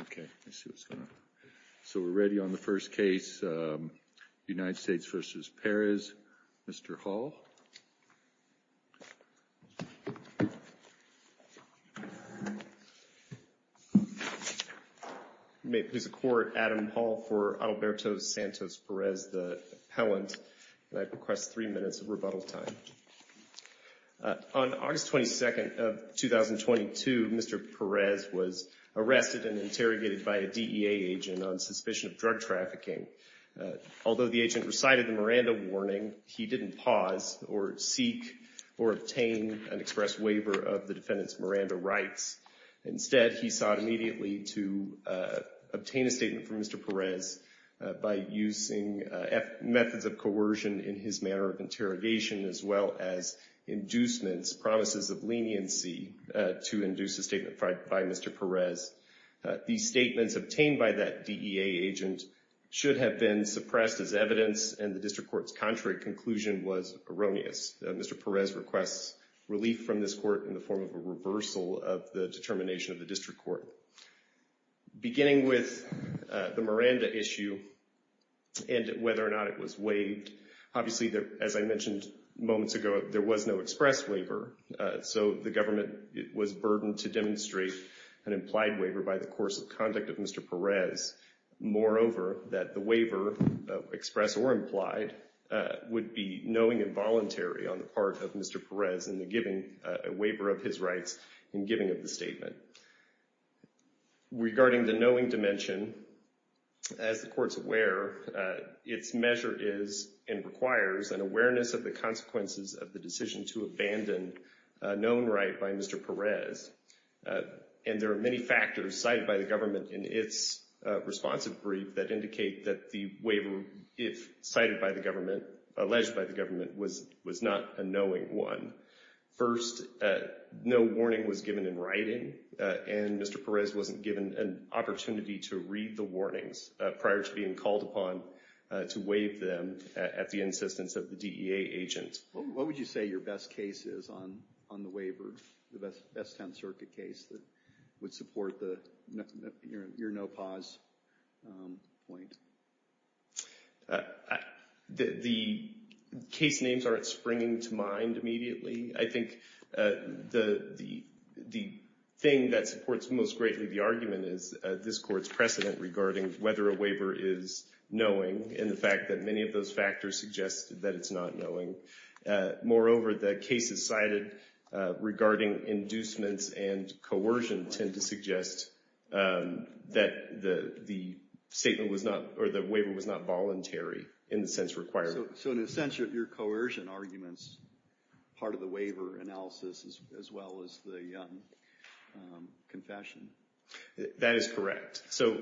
Okay, let's see what's going on. So we're ready on the first case, United States v. Perez. Mr. Hall. May it please the Court, Adam Hall for Alberto Santos Perez, the appellant. I request three minutes of rebuttal time. On August 22nd of 2022, Mr. Perez was arrested and interrogated by a DEA agent on suspicion of drug trafficking. Although the agent recited the Miranda warning, he didn't pause or seek or obtain an express waiver of the defendant's Miranda rights. Instead, he sought immediately to obtain a statement from Mr. Perez by using methods of coercion in his manner of interrogation as well as inducements, promises of leniency to induce a statement by Mr. Perez. These statements obtained by that DEA agent should have been suppressed as evidence and the district court's contrary conclusion was erroneous. Mr. Perez requests relief from this court in the form of a reversal of the determination of the district court. Beginning with the Miranda issue and whether or not it was waived, obviously, as I mentioned moments ago, there was no express waiver. So the government was burdened to demonstrate an implied waiver by the course of conduct of Mr. Perez. Moreover, that the waiver, express or implied, would be knowing involuntary on the part of Mr. Perez in the giving a waiver of his rights in giving of the statement. Regarding the knowing dimension, as the court's aware, its measure is and requires an awareness of the consequences of the decision to abandon a known right by Mr. Perez. And there are many factors cited by the government in its responsive brief that indicate that the waiver, if cited by the government, alleged by the government, was not a knowing one. First, no warning was given in writing and Mr. Perez wasn't given an opportunity to read the warnings prior to being called upon to waive them at the insistence of the DEA agent. What would you say your best case is on the waiver, the Best Town Circuit case that would support your no pause point? The case names aren't springing to mind immediately. I think the thing that supports most greatly the argument is this court's precedent regarding whether a waiver is knowing and the fact that many of those factors suggest that it's not knowing. Moreover, the cases cited regarding inducements and coercion tend to suggest that the waiver was not voluntary in the sense required. So in a sense, your coercion argument is part of the waiver analysis as well as the confession? That is correct. So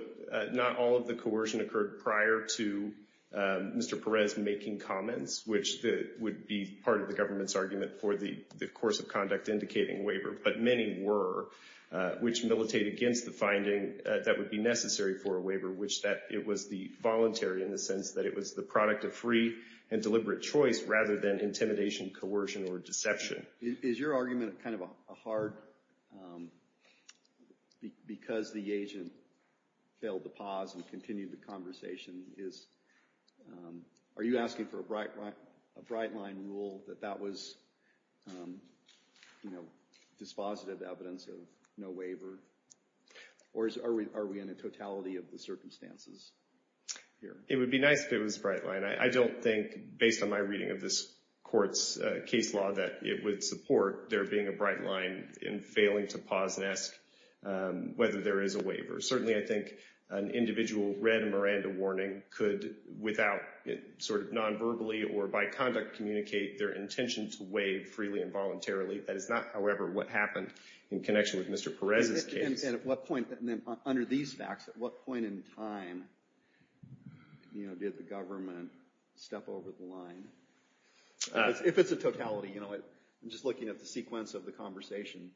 not all of the coercion occurred prior to Mr. Perez making comments, which would be part of the government's argument for the course of conduct indicating waiver, but many were, which militate against the finding that would be necessary for a waiver, which that it was the voluntary in the sense that it was the product of free and deliberate choice rather than intimidation, coercion, or deception. Is your argument kind of a hard, because the agent failed to pause and continue the conversation, is, are you asking for a bright line rule that that was, you know, dispositive evidence of no waiver, or are we in a totality of the circumstances here? It would be nice if it was a bright line. I don't think, based on my reading of this court's case law, that it would support there being a bright line in failing to pause and ask whether there is a waiver. Certainly, I think an individual read a Miranda warning could, without sort of non-verbally or by conduct, communicate their intention to waive freely and voluntarily. That is not, however, what happened in connection with Mr. Perez's case. And at what point, under these facts, at what point in time, you know, did the government step over the line? If it's a totality, you know, I'm just looking at the sequence of the conversation.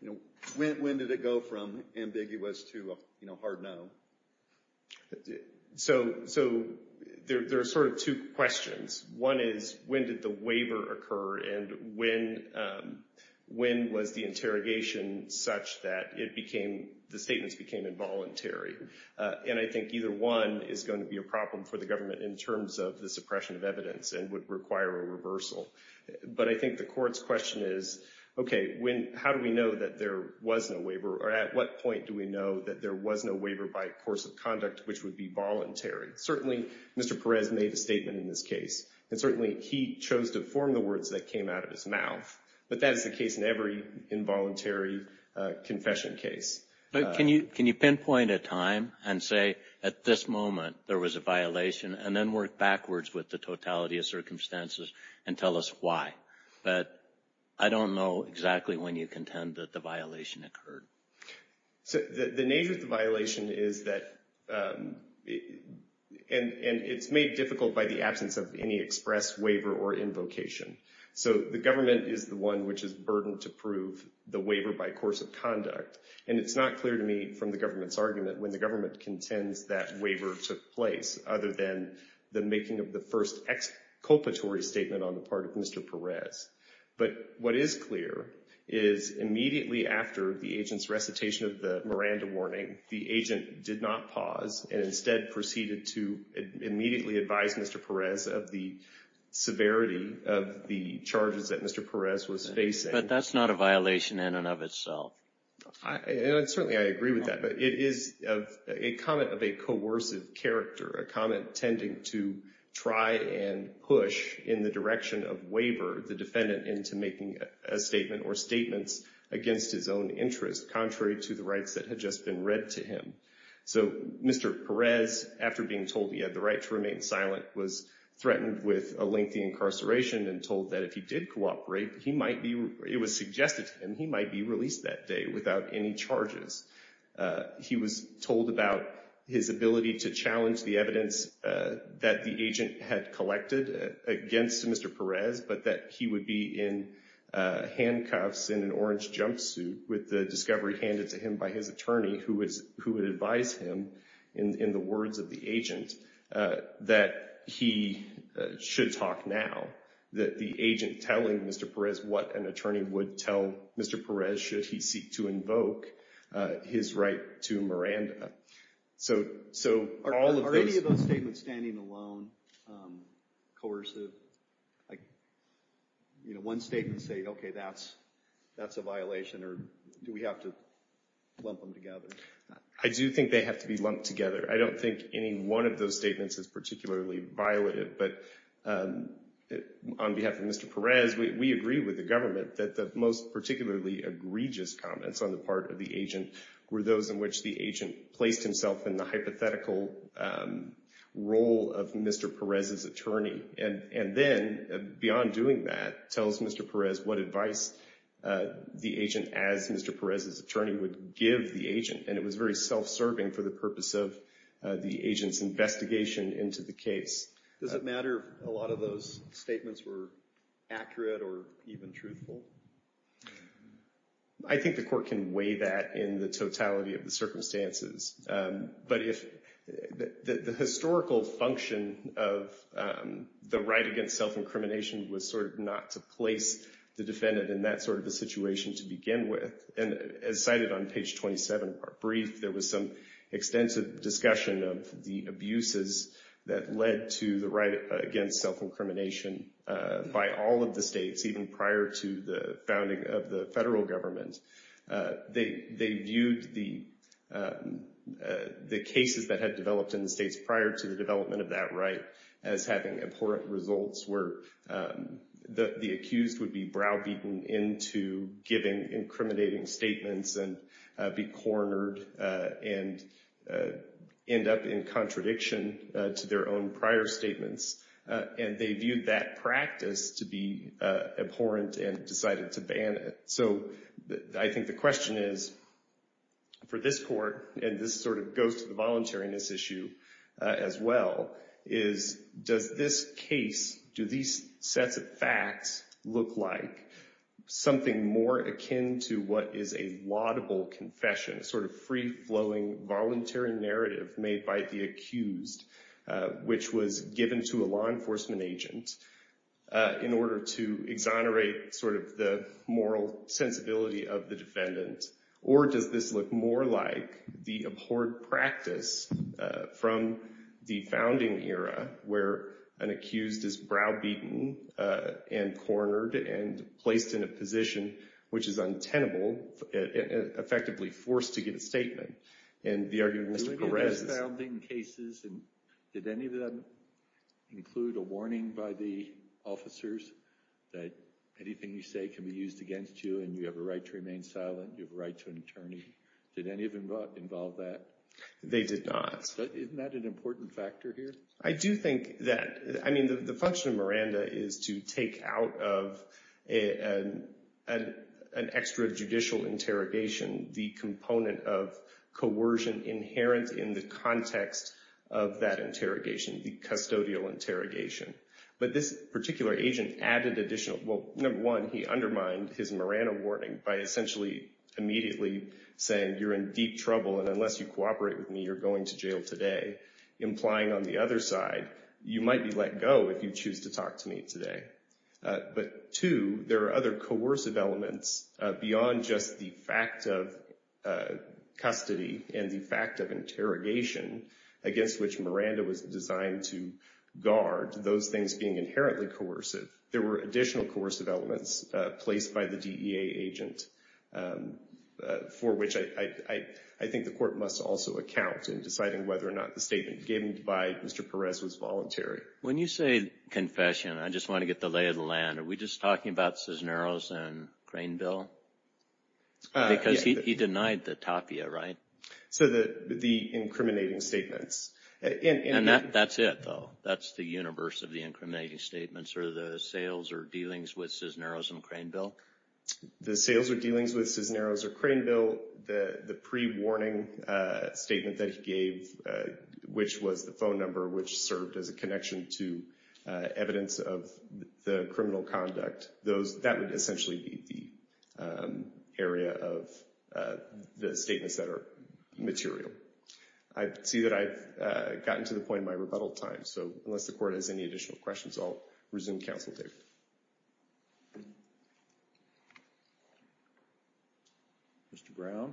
You know, when did it go from ambiguous to, you know, hard no? So, there are sort of two questions. One is, when did the waiver occur, and when was the interrogation such that it became, the statements became involuntary? And I think either one is going to be a problem for the government in terms of the suppression of evidence and would require a reversal. But I think the court's question is, okay, when, how do we know that there was no waiver, or at what point do we know that there was no waiver by course of conduct which would be voluntary? Certainly, Mr. Perez made a statement in this case. And certainly, he chose to form the words that came out of his mouth. But that is the case in every involuntary confession case. But can you pinpoint a time and say, at this moment, there was a violation, and then work backwards with the totality of circumstances and tell us why? But I don't know exactly when you contend that the violation occurred. So, the nature of the violation is that, and it's made difficult by the absence of any express waiver or invocation. So, the government is the one which is burdened to prove the waiver by course of conduct. And it's not clear to me from the government's argument when the government contends that waiver took place, other than the making of the first exculpatory statement on the part of Mr. Perez. But what is clear is immediately after the agent's recitation of the Miranda warning, the agent did not pause, and instead proceeded to immediately advise Mr. Perez of the severity of the charges that Mr. Perez was facing. But that's not a violation in and of itself. Certainly, I agree with that. But it is a comment of a coercive character, a comment tending to try and push in the direction of waiver the defendant into making a statement or statements against his own interest, contrary to the rights that had just been read to him. So, Mr. Perez, after being told he had the right to remain silent, was threatened with a lengthy incarceration and told that if he did cooperate, he might be, it was suggested to him, he might be released that day without any charges. He was told about his ability to challenge the evidence that the agent had collected against Mr. Perez, but that he would be in handcuffs in an orange jumpsuit with the discovery handed to him by his attorney, who would advise him, in the words of the agent, that he should talk now, that the agent telling Mr. Perez what an attorney would tell Mr. Perez should he seek to invoke his right to Miranda. So, so all of those... Are any of those statements standing alone, coercive? Like, you know, one statement saying, okay, that's, that's a violation? Or do we have to lump them together? I do think they have to be lumped together. I don't think any one of those statements is particularly violative. But on behalf of Mr. Perez, we agree with the government that the particularly egregious comments on the part of the agent were those in which the agent placed himself in the hypothetical role of Mr. Perez's attorney. And then, beyond doing that, tells Mr. Perez what advice the agent, as Mr. Perez's attorney, would give the agent. And it was very self-serving for the purpose of the agent's investigation into the case. Does it matter if a lot of those statements were accurate or even truthful? I think the court can weigh that in the totality of the circumstances. But if the historical function of the right against self-incrimination was sort of not to place the defendant in that sort of a situation to begin with, and as cited on page 27 of our brief, there was some extensive discussion of the abuses that led to the right against self-incrimination by all of the states, even prior to the founding of the federal government. They viewed the cases that had developed in the states prior to the development of that right as having abhorrent results where the accused would be browbeaten into giving incriminating statements and be cornered and end up in contradiction to their own prior statements. And they viewed that practice to be abhorrent and decided to ban it. So I think the question is for this court, and this sort of goes to the voluntariness issue as well, is does this case, do these sets of facts look like something more akin to what is a laudable confession, a sort of free-flowing voluntary narrative made by the accused, which was given to a law enforcement agent in order to exonerate sort of the moral sensibility of the defendant? Or does this look more like the abhorrent practice from the founding era where an accused is browbeaten and cornered and placed in a position which is untenable, effectively forced to give a statement? And the argument of Mr. Perez is... In the founding cases, did any of them include a warning by the officers that anything you say can be used against you and you have a right to remain silent, you have a right to an attorney? Did any of them involve that? They did not. So isn't that an important factor here? I do think that... I mean, the function of Miranda is to take out of an extrajudicial interrogation the component of coercion inherent in the context of that interrogation, the custodial interrogation. But this particular agent added additional... Well, number one, he undermined his Miranda warning by essentially immediately saying, you're in deep trouble and unless you cooperate with me, you're going to jail today, implying on the other side, you might be let go if you choose to talk to me today. But two, there are other coercive elements beyond just the fact of custody and the fact of interrogation against which Miranda was designed to guard, those things being inherently coercive. There were additional coercive elements placed by the DEA agent, for which I think the court must also account in deciding whether or not the statement given by Mr. Perez was voluntary. When you say confession, I just want to get the lay of the land. Are we just talking about Cisneros and Craneville? Because he denied the tapia, right? So the incriminating statements. And that's it, though. That's the universe of the incriminating statements or the sales or dealings with Cisneros and Craneville? The sales or dealings with Cisneros or Craneville, the pre-warning statement that he gave, which was the phone number which served as a connection to evidence of the criminal conduct, that would essentially be the area of the statements that are material. I see that I've gotten to the point of my rebuttal time, so unless the court has any additional questions, I'll resume counsel table. Mr. Brown?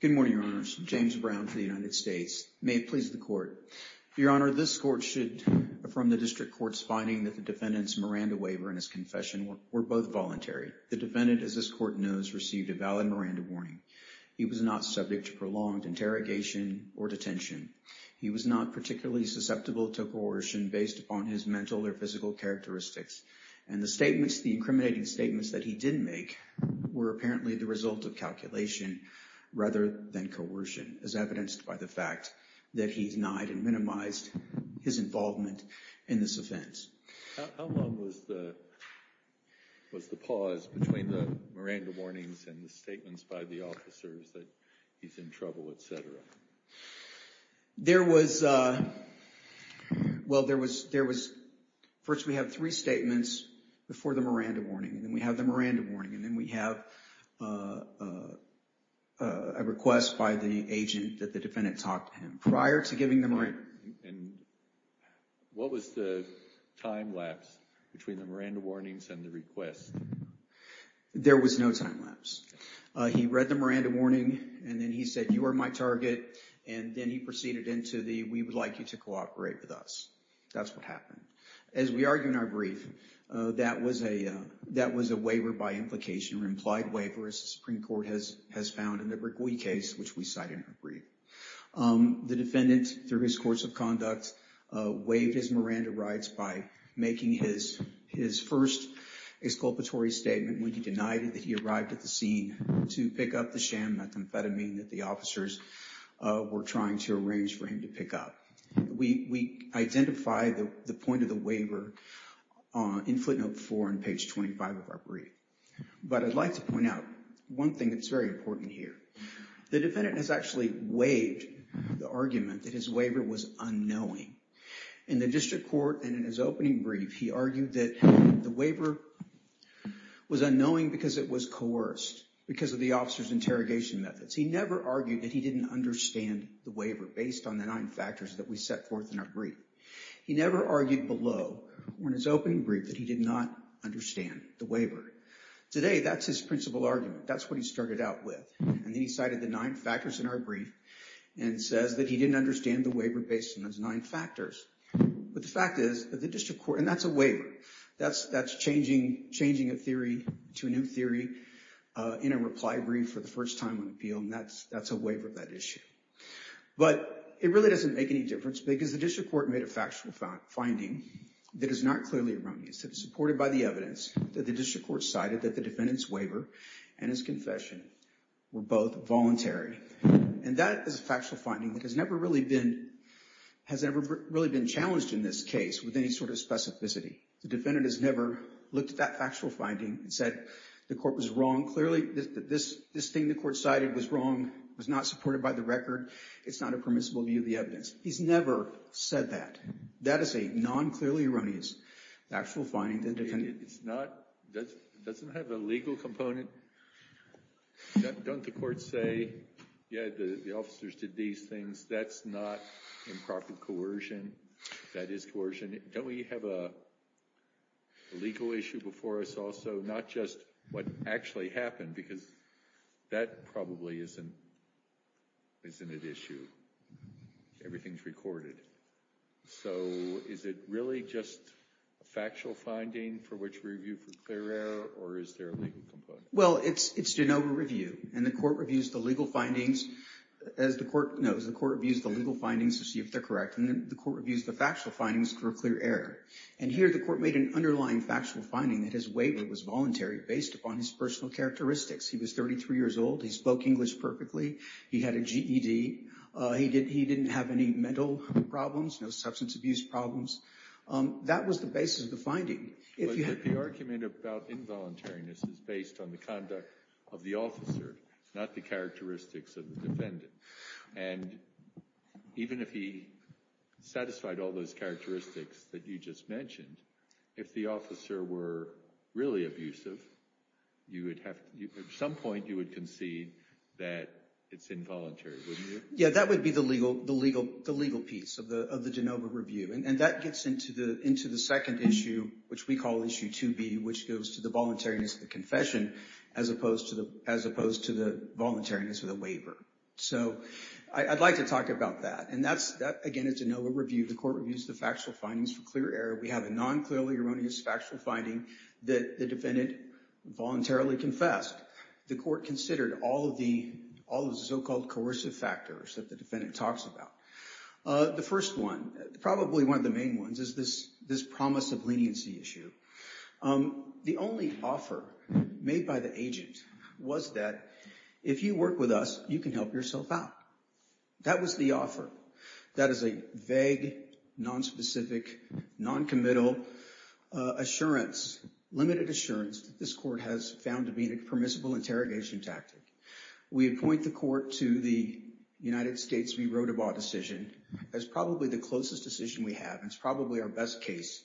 Good morning, Your Honors. James Brown for the United States. May it please the Court. Your Honor, this Court should affirm the District Court's finding that the defendant's Miranda waiver and his confession were both voluntary. The defendant, as this Court knows, received a valid Miranda warning. He was not subject to prolonged interrogation or detention. He was not particularly susceptible to coercion based upon his mental or physical characteristics. And the statements, the incriminating statements that he didn't make were apparently the result of calculation rather than coercion, as evidenced by the fact that he denied and minimized his involvement in this offense. How long was the pause between the Miranda warnings and the statements by the officers that he's in trouble, et cetera? First, we have three statements before the Miranda warning, and then we have the Miranda warning, and then we have a request by the agent that the defendant talk to him prior to giving the Miranda warning. And what was the time lapse between the Miranda warnings and the request? There was no time lapse. He read the Miranda warning, and then he said, you are my target, and then he proceeded into the, we would like you to cooperate with us. That's what happened. As we argue in our brief, that was a waiver by implication, or implied waiver, as the Supreme Court has found in the Bregui case, which we cite in our brief. The defendant, through his course of conduct, waived his Miranda rights by making his first exculpatory statement when he denied that he arrived at the scene to pick up the sham methamphetamine that the officers were trying to arrange for him to pick up. We identify the point of the waiver in footnote four on page 25 of our brief. But I'd like to point out one thing that's very important here. The defendant has actually waived the argument that his waiver was unknowing. In the district court and in his opening brief, he argued that the waiver was unknowing because it was coerced, because of the officer's interrogation methods. He never argued that he didn't understand the waiver based on the nine factors that we set forth in our brief. He never argued below, or in his opening brief, that he did not understand the waiver. Today, that's his principal argument. That's what he started out with. And then he cited the nine factors in our brief, and says that he didn't understand the waiver based on those nine factors. But the fact is that the district court, and that's a waiver. That's changing a theory to a new theory in a reply brief for the first time on appeal, and that's a waiver of that issue. But it really doesn't make any difference, because the district court made a factual finding that is not clearly erroneous. Supported by the evidence that the district court cited that the defendant's waiver and his confession were both voluntary. And that is a factual finding that has never really been challenged in this case with any sort of specificity. The defendant has never looked at that factual finding and said, the court was wrong. Clearly, this thing the court cited was wrong, was not supported by the record. It's not a permissible view of the evidence. He's never said that. That is a non-clearly erroneous actual finding. It's not, it doesn't have a legal component. Don't the courts say, yeah, the officers did these things. That's not improper coercion. That is coercion. Don't we have a legal issue before us also? Not just what actually happened, because that probably isn't an issue. Everything's recorded. So is it really just a factual finding for which review for clear error, or is there a legal component? Well, it's de novo review, and the court reviews the legal findings as the court knows. The court reviews the legal findings to see if they're correct, and then the court reviews the factual findings for clear error. And here the court made an underlying factual finding that his waiver was voluntary based upon his personal characteristics. He was 33 years old. He spoke English perfectly. He had a GED. He didn't have any mental problems, no substance abuse problems. That was the basis of the finding. But the argument about involuntariness is based on the conduct of the officer, not the characteristics of the defendant. And even if he satisfied all those characteristics that you just mentioned, if the officer were really abusive, at some point you would concede that it's involuntary, wouldn't you? Yeah, that would be the legal piece of the de novo review. And that gets into the second issue, which we call issue 2B, which goes to the voluntariness of the confession, as opposed to the voluntariness of the waiver. So I'd like to talk about that. And that, again, is de novo review. The court reviews the factual findings for clear error. We have a non-clearly erroneous factual finding that the defendant voluntarily confessed. The court considered all of the so-called coercive factors that the defendant talks about. The first one, probably one of the main ones, is this promise of leniency issue. The only offer made by the agent was that if you work with us, you can help yourself out. That was the offer. That is a vague, nonspecific, noncommittal assurance, limited assurance that this court has found to be a permissible interrogation tactic. We appoint the court to the United States v. Rodebaugh decision as probably the closest decision we have. It's probably our best case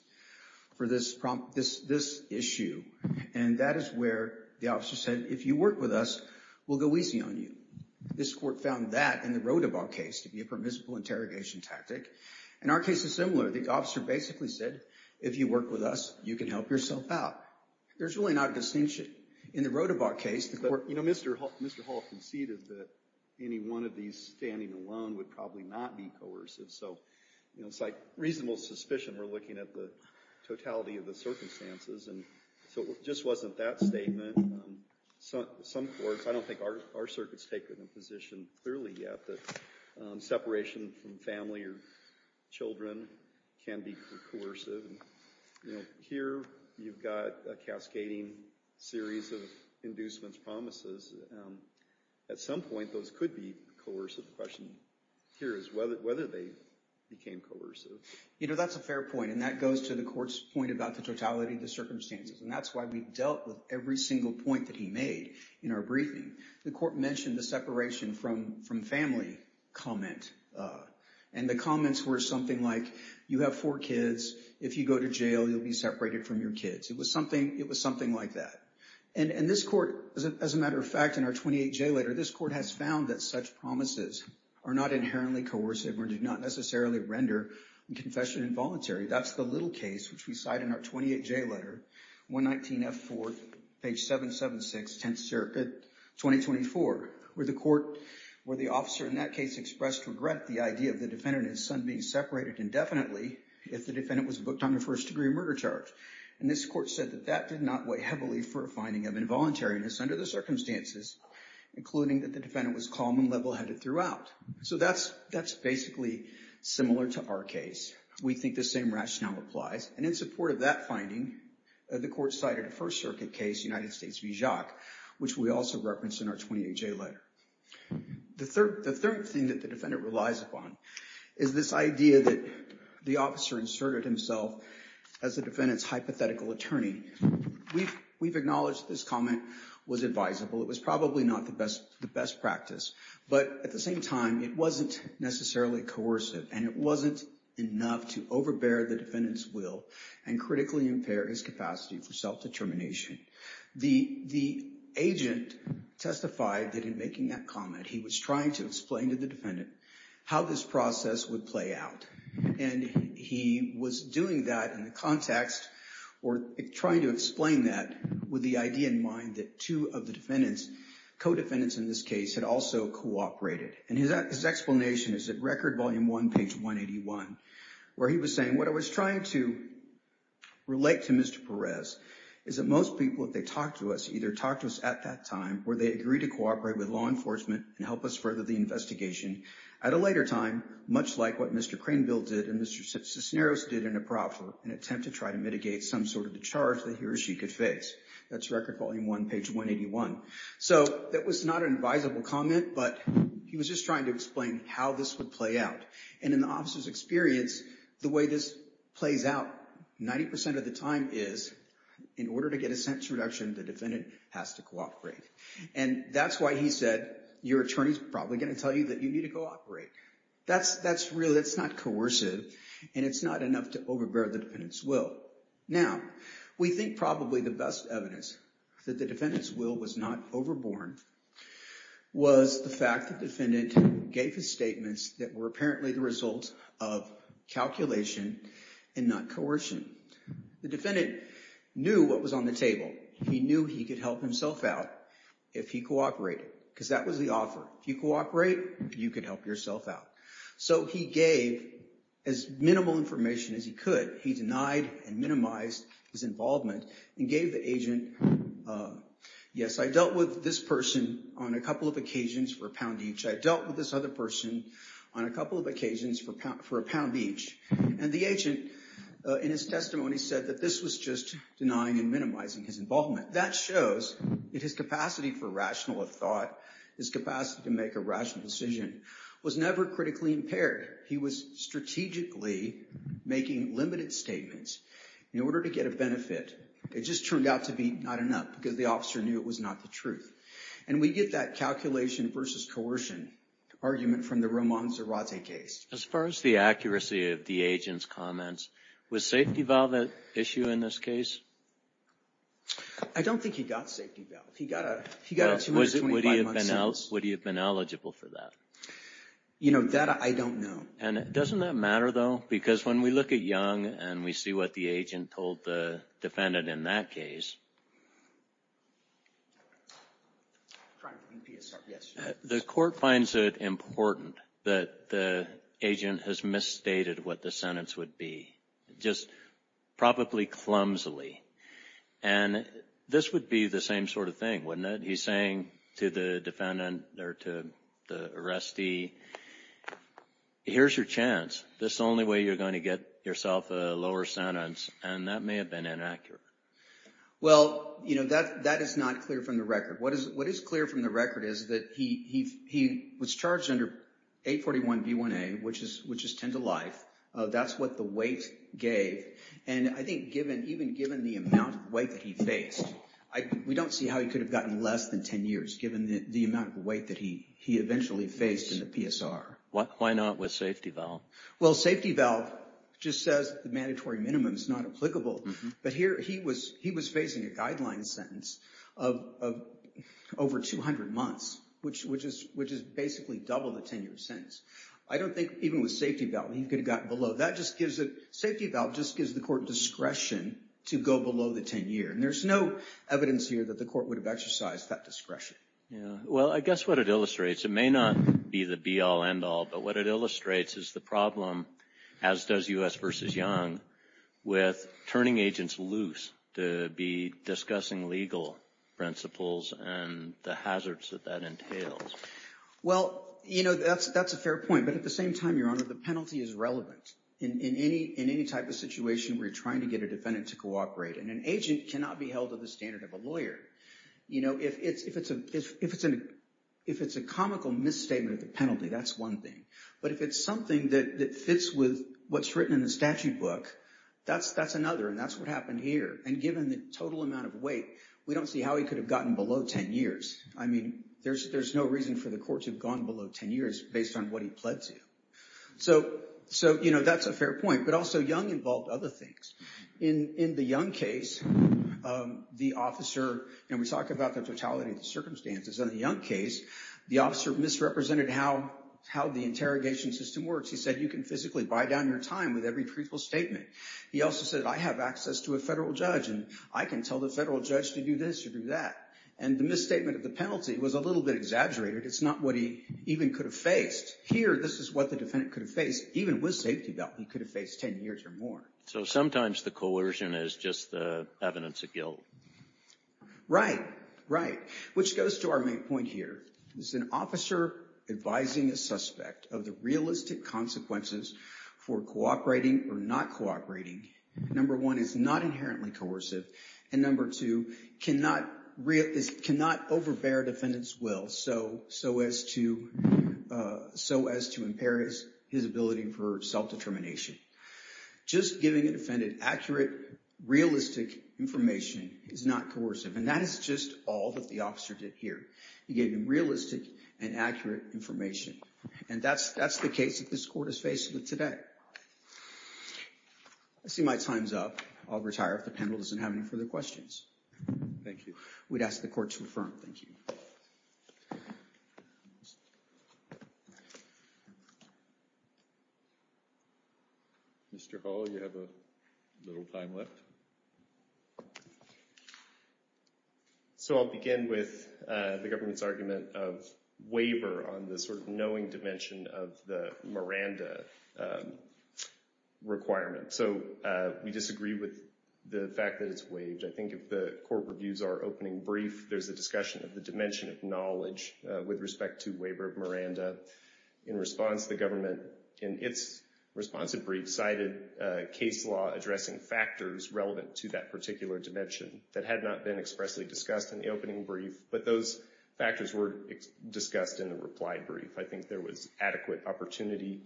for this issue. And that is where the officer said, if you work with us, we'll go easy on you. This court found that in the Rodebaugh case to be a permissible interrogation tactic. And our case is similar. The officer basically said, if you work with us, you can help yourself out. There's really not a distinction in the Rodebaugh case. But, you know, Mr. Hall conceded that any one of these standing alone would probably not be coercive. So, you know, it's like reasonable suspicion. We're looking at the totality of the circumstances. And so it just wasn't that statement. Some courts, I don't think our circuit's taken a position clearly yet that separation from family or children can be coercive. You know, here you've got a cascading series of inducements, promises. At some point, those could be coercive. The question here is whether they became coercive. You know, that's a fair point. And that goes to the court's point about the totality of the circumstances. And that's why we dealt with every single point that he made in our briefing. The court mentioned the separation from family comment. And the comments were something like, you have four kids. If you go to jail, you'll be separated from your kids. It was something like that. And this court, as a matter of fact, in our 28-J letter, this court has found that such promises are not inherently coercive or do not necessarily render confession involuntary. That's the little case, which we cite in our 28-J letter, 119F4, page 776, 10th Circuit, 2024, where the court, where the officer in that case expressed regret the idea of the defendant and his son being separated indefinitely if the defendant was booked on a first-degree murder charge. And this court said that that did not weigh heavily for a finding of involuntariness under the circumstances, including that the defendant was calm and level-headed throughout. So that's basically similar to our case. We think the same rationale applies. And in support of that finding, the court cited a First Circuit case, United States v. Jacques, which we also referenced in our 28-J letter. The third thing that the defendant relies upon is this idea that the officer inserted himself as the defendant's hypothetical attorney. We've acknowledged this was advisable. It was probably not the best practice. But at the same time, it wasn't necessarily coercive, and it wasn't enough to overbear the defendant's will and critically impair his capacity for self-determination. The agent testified that in making that comment, he was trying to explain to the defendant how this process would play out. And he was doing that in mind that two of the defendants, co-defendants in this case, had also cooperated. And his explanation is at Record Volume 1, page 181, where he was saying, what I was trying to relate to Mr. Perez is that most people, if they talk to us, either talk to us at that time where they agree to cooperate with law enforcement and help us further the investigation at a later time, much like what Mr. Cranbill did and Mr. Cisneros did in a proffer, an attempt to try to mitigate some sort of the charge that he or she could face. That's Record Volume 1, page 181. So that was not an advisable comment, but he was just trying to explain how this would play out. And in the officer's experience, the way this plays out 90% of the time is in order to get a sentence reduction, the defendant has to cooperate. And that's why he said, your attorney's probably going to tell you that you need to cooperate. That's real. That's not coercive, and it's not to overbear the defendant's will. Now, we think probably the best evidence that the defendant's will was not overborne was the fact that the defendant gave his statements that were apparently the result of calculation and not coercion. The defendant knew what was on the table. He knew he could help himself out if he cooperated, because that was the offer. If you cooperate, you can help yourself out. So he gave as minimal information as he could. He denied and minimized his involvement and gave the agent, yes, I dealt with this person on a couple of occasions for a pound each. I dealt with this other person on a couple of occasions for a pound each. And the agent, in his testimony, said that this was just denying and minimizing his involvement. That shows that his capacity for rational thought, his capacity to make a rational decision, was never critically impaired. He was strategically making limited statements in order to get a benefit. It just turned out to be not enough, because the officer knew it was not the truth. And we get that calculation versus coercion argument from the Roman Zarate case. As far as the accuracy of the agent's comments, was safety valve an issue in this case? I don't think he got safety valve. He got a 225-month sentence. Would he have been eligible for that? You know, that I don't know. And doesn't that matter, though? Because when we look at Young and we see what the agent told the defendant in that case, the court finds it important that the agent has misstated what the sentence would be, just probably clumsily. And this would be the same sort of thing, wouldn't it? He's saying to the defendant or to the arrestee, here's your chance. This is the only way you're going to get yourself a lower sentence. And that may have been inaccurate. Well, you know, that is not clear from the record. What is clear from the record is that he was charged under 841B1A, which is 10 to life. That's what the weight gave. And I think even given the amount of weight that he faced, we don't see how he could have gotten less than 10 years, given the amount of weight that he eventually faced in the PSR. Why not with safety valve? Well, safety valve just says the mandatory minimum is not applicable. But here he was facing a guideline sentence of over 200 months, which is basically double the 10-year sentence. I don't think even with safety valve he could have gotten below. Safety valve just gives the court discretion to go below the 10-year. And there's no evidence here that the court would have exercised that discretion. Well, I guess what it illustrates, it may not be the be-all, end-all, but what it illustrates is the problem, as does U.S. v. Young, with turning agents loose to be discussing legal principles and the hazards that that entails. Well, you know, that's a fair point. But at the same time, Your Honor, the penalty is relevant in any type of situation where you're trying to get a defendant to cooperate. And an agent cannot be held to the standard of a lawyer. You know, if it's a comical misstatement of the penalty, that's one thing. But if it's something that fits with what's written in the statute book, that's another. And that's what happened here. And given the total amount of weight, we don't see how he could have gotten below 10 years. I mean, there's no reason for the court to have gone below 10 years based on what he pled to. So, you know, that's a fair point. But also, Young involved other things. In the Young case, the officer, and we talk about the totality of circumstances. In the Young case, the officer misrepresented how the interrogation system works. He said, you can physically buy down your time with every truthful statement. He also said, I have access to a federal judge, and I can tell the federal judge to do this or do that. And the misstatement of the penalty was a little bit exaggerated. It's not what he even could have faced. Here, this is what the defendant could have faced. Even with safety belt, he could have faced 10 years or more. So sometimes the coercion is just the evidence of the safety belt. Right, right. Which goes to our main point here. Is an officer advising a suspect of the realistic consequences for cooperating or not cooperating, number one, is not inherently coercive, and number two, cannot overbear defendant's will so as to impair his ability for self-determination. Just giving a defendant accurate, realistic information is not coercive. And that is just all that the officer did here. He gave him realistic and accurate information. And that's the case that this court is facing today. I see my time's up. I'll retire if the have any further questions. Thank you. We'd ask the court to refer him. Thank you. Mr. Hall, you have a little time left. So I'll begin with the government's argument of waiver on the sort of knowing dimension of the Miranda requirement. So we disagree with the fact that it's waived. I think if the court reviews our opening brief, there's a discussion of the dimension of knowledge with respect to waiver of Miranda. In response, the government, in its responsive brief, cited case law addressing factors relevant to that particular dimension that had not been expressly discussed in the opening brief, but those factors were discussed in the reply brief. I think there was adequate opportunity,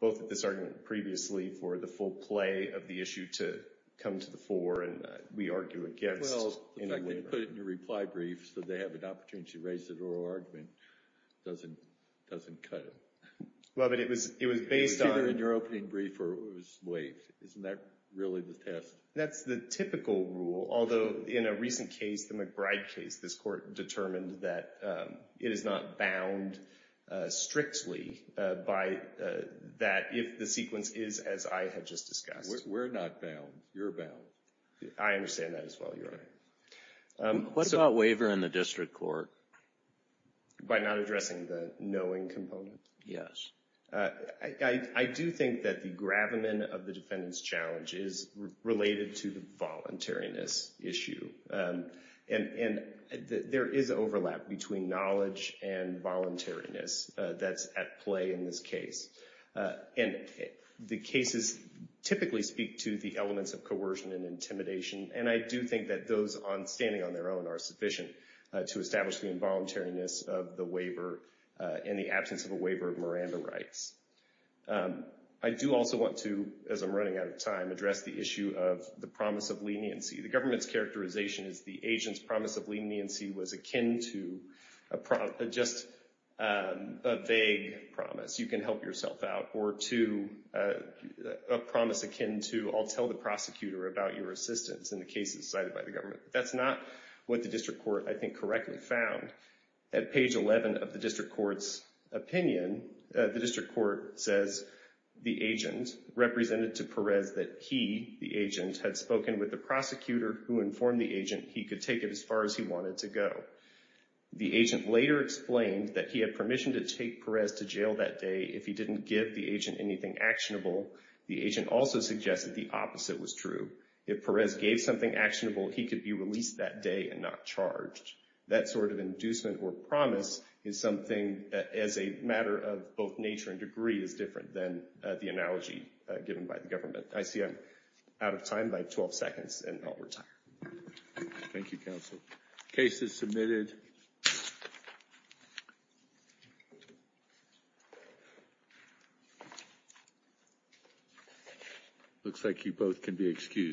both at this argument previously for the full play of the issue to come to the fore and we argue against. Well, the fact that they put it in your reply brief so they have an opportunity to raise an oral argument doesn't cut it. Well, but it was based on... It was either in your opening brief or it was waived. Isn't that really the test? That's the typical rule, although in a recent case, the McBride case, this court determined that it is not bound strictly by that if the sequence is as I have just discussed. We're not bound. You're bound. I understand that as well, Your Honor. What about waiver in the district court? By not addressing the knowing component? Yes. I do think that the gravamen of the defendant's challenge is related to the voluntariness issue. And there is overlap between knowledge and voluntariness that's at play in this case. And the cases typically speak to the elements of coercion and intimidation. And I do think that those standing on their own are sufficient to establish the involuntariness of the waiver in the absence of a waiver of Miranda rights. I do also want to, as I'm running out of time, address the issue of the promise of leniency. The government's characterization is the agent's promise of leniency was akin to just a vague promise. You can help yourself out. Or two, a promise akin to, I'll tell the prosecutor about your assistance in the cases cited by the government. That's not what the district court, I think, correctly found. At page 11 of the district court's opinion, the district court says the agent represented to Perez that he, the agent, had spoken with the prosecutor who informed the agent he could take it as far as he wanted to go. The agent later explained that he had permission to take Perez to jail that day if he didn't give the agent anything actionable. The agent also suggested the opposite was true. If Perez gave something actionable, he could be released that day and not charged. That sort of inducement or promise is something, as a matter of both nature and degree, is different than the analogy given by the government. I see I'm out of time by 12 seconds, and I'll retire. Thank you, counsel. Cases submitted. Looks like you both can be excused.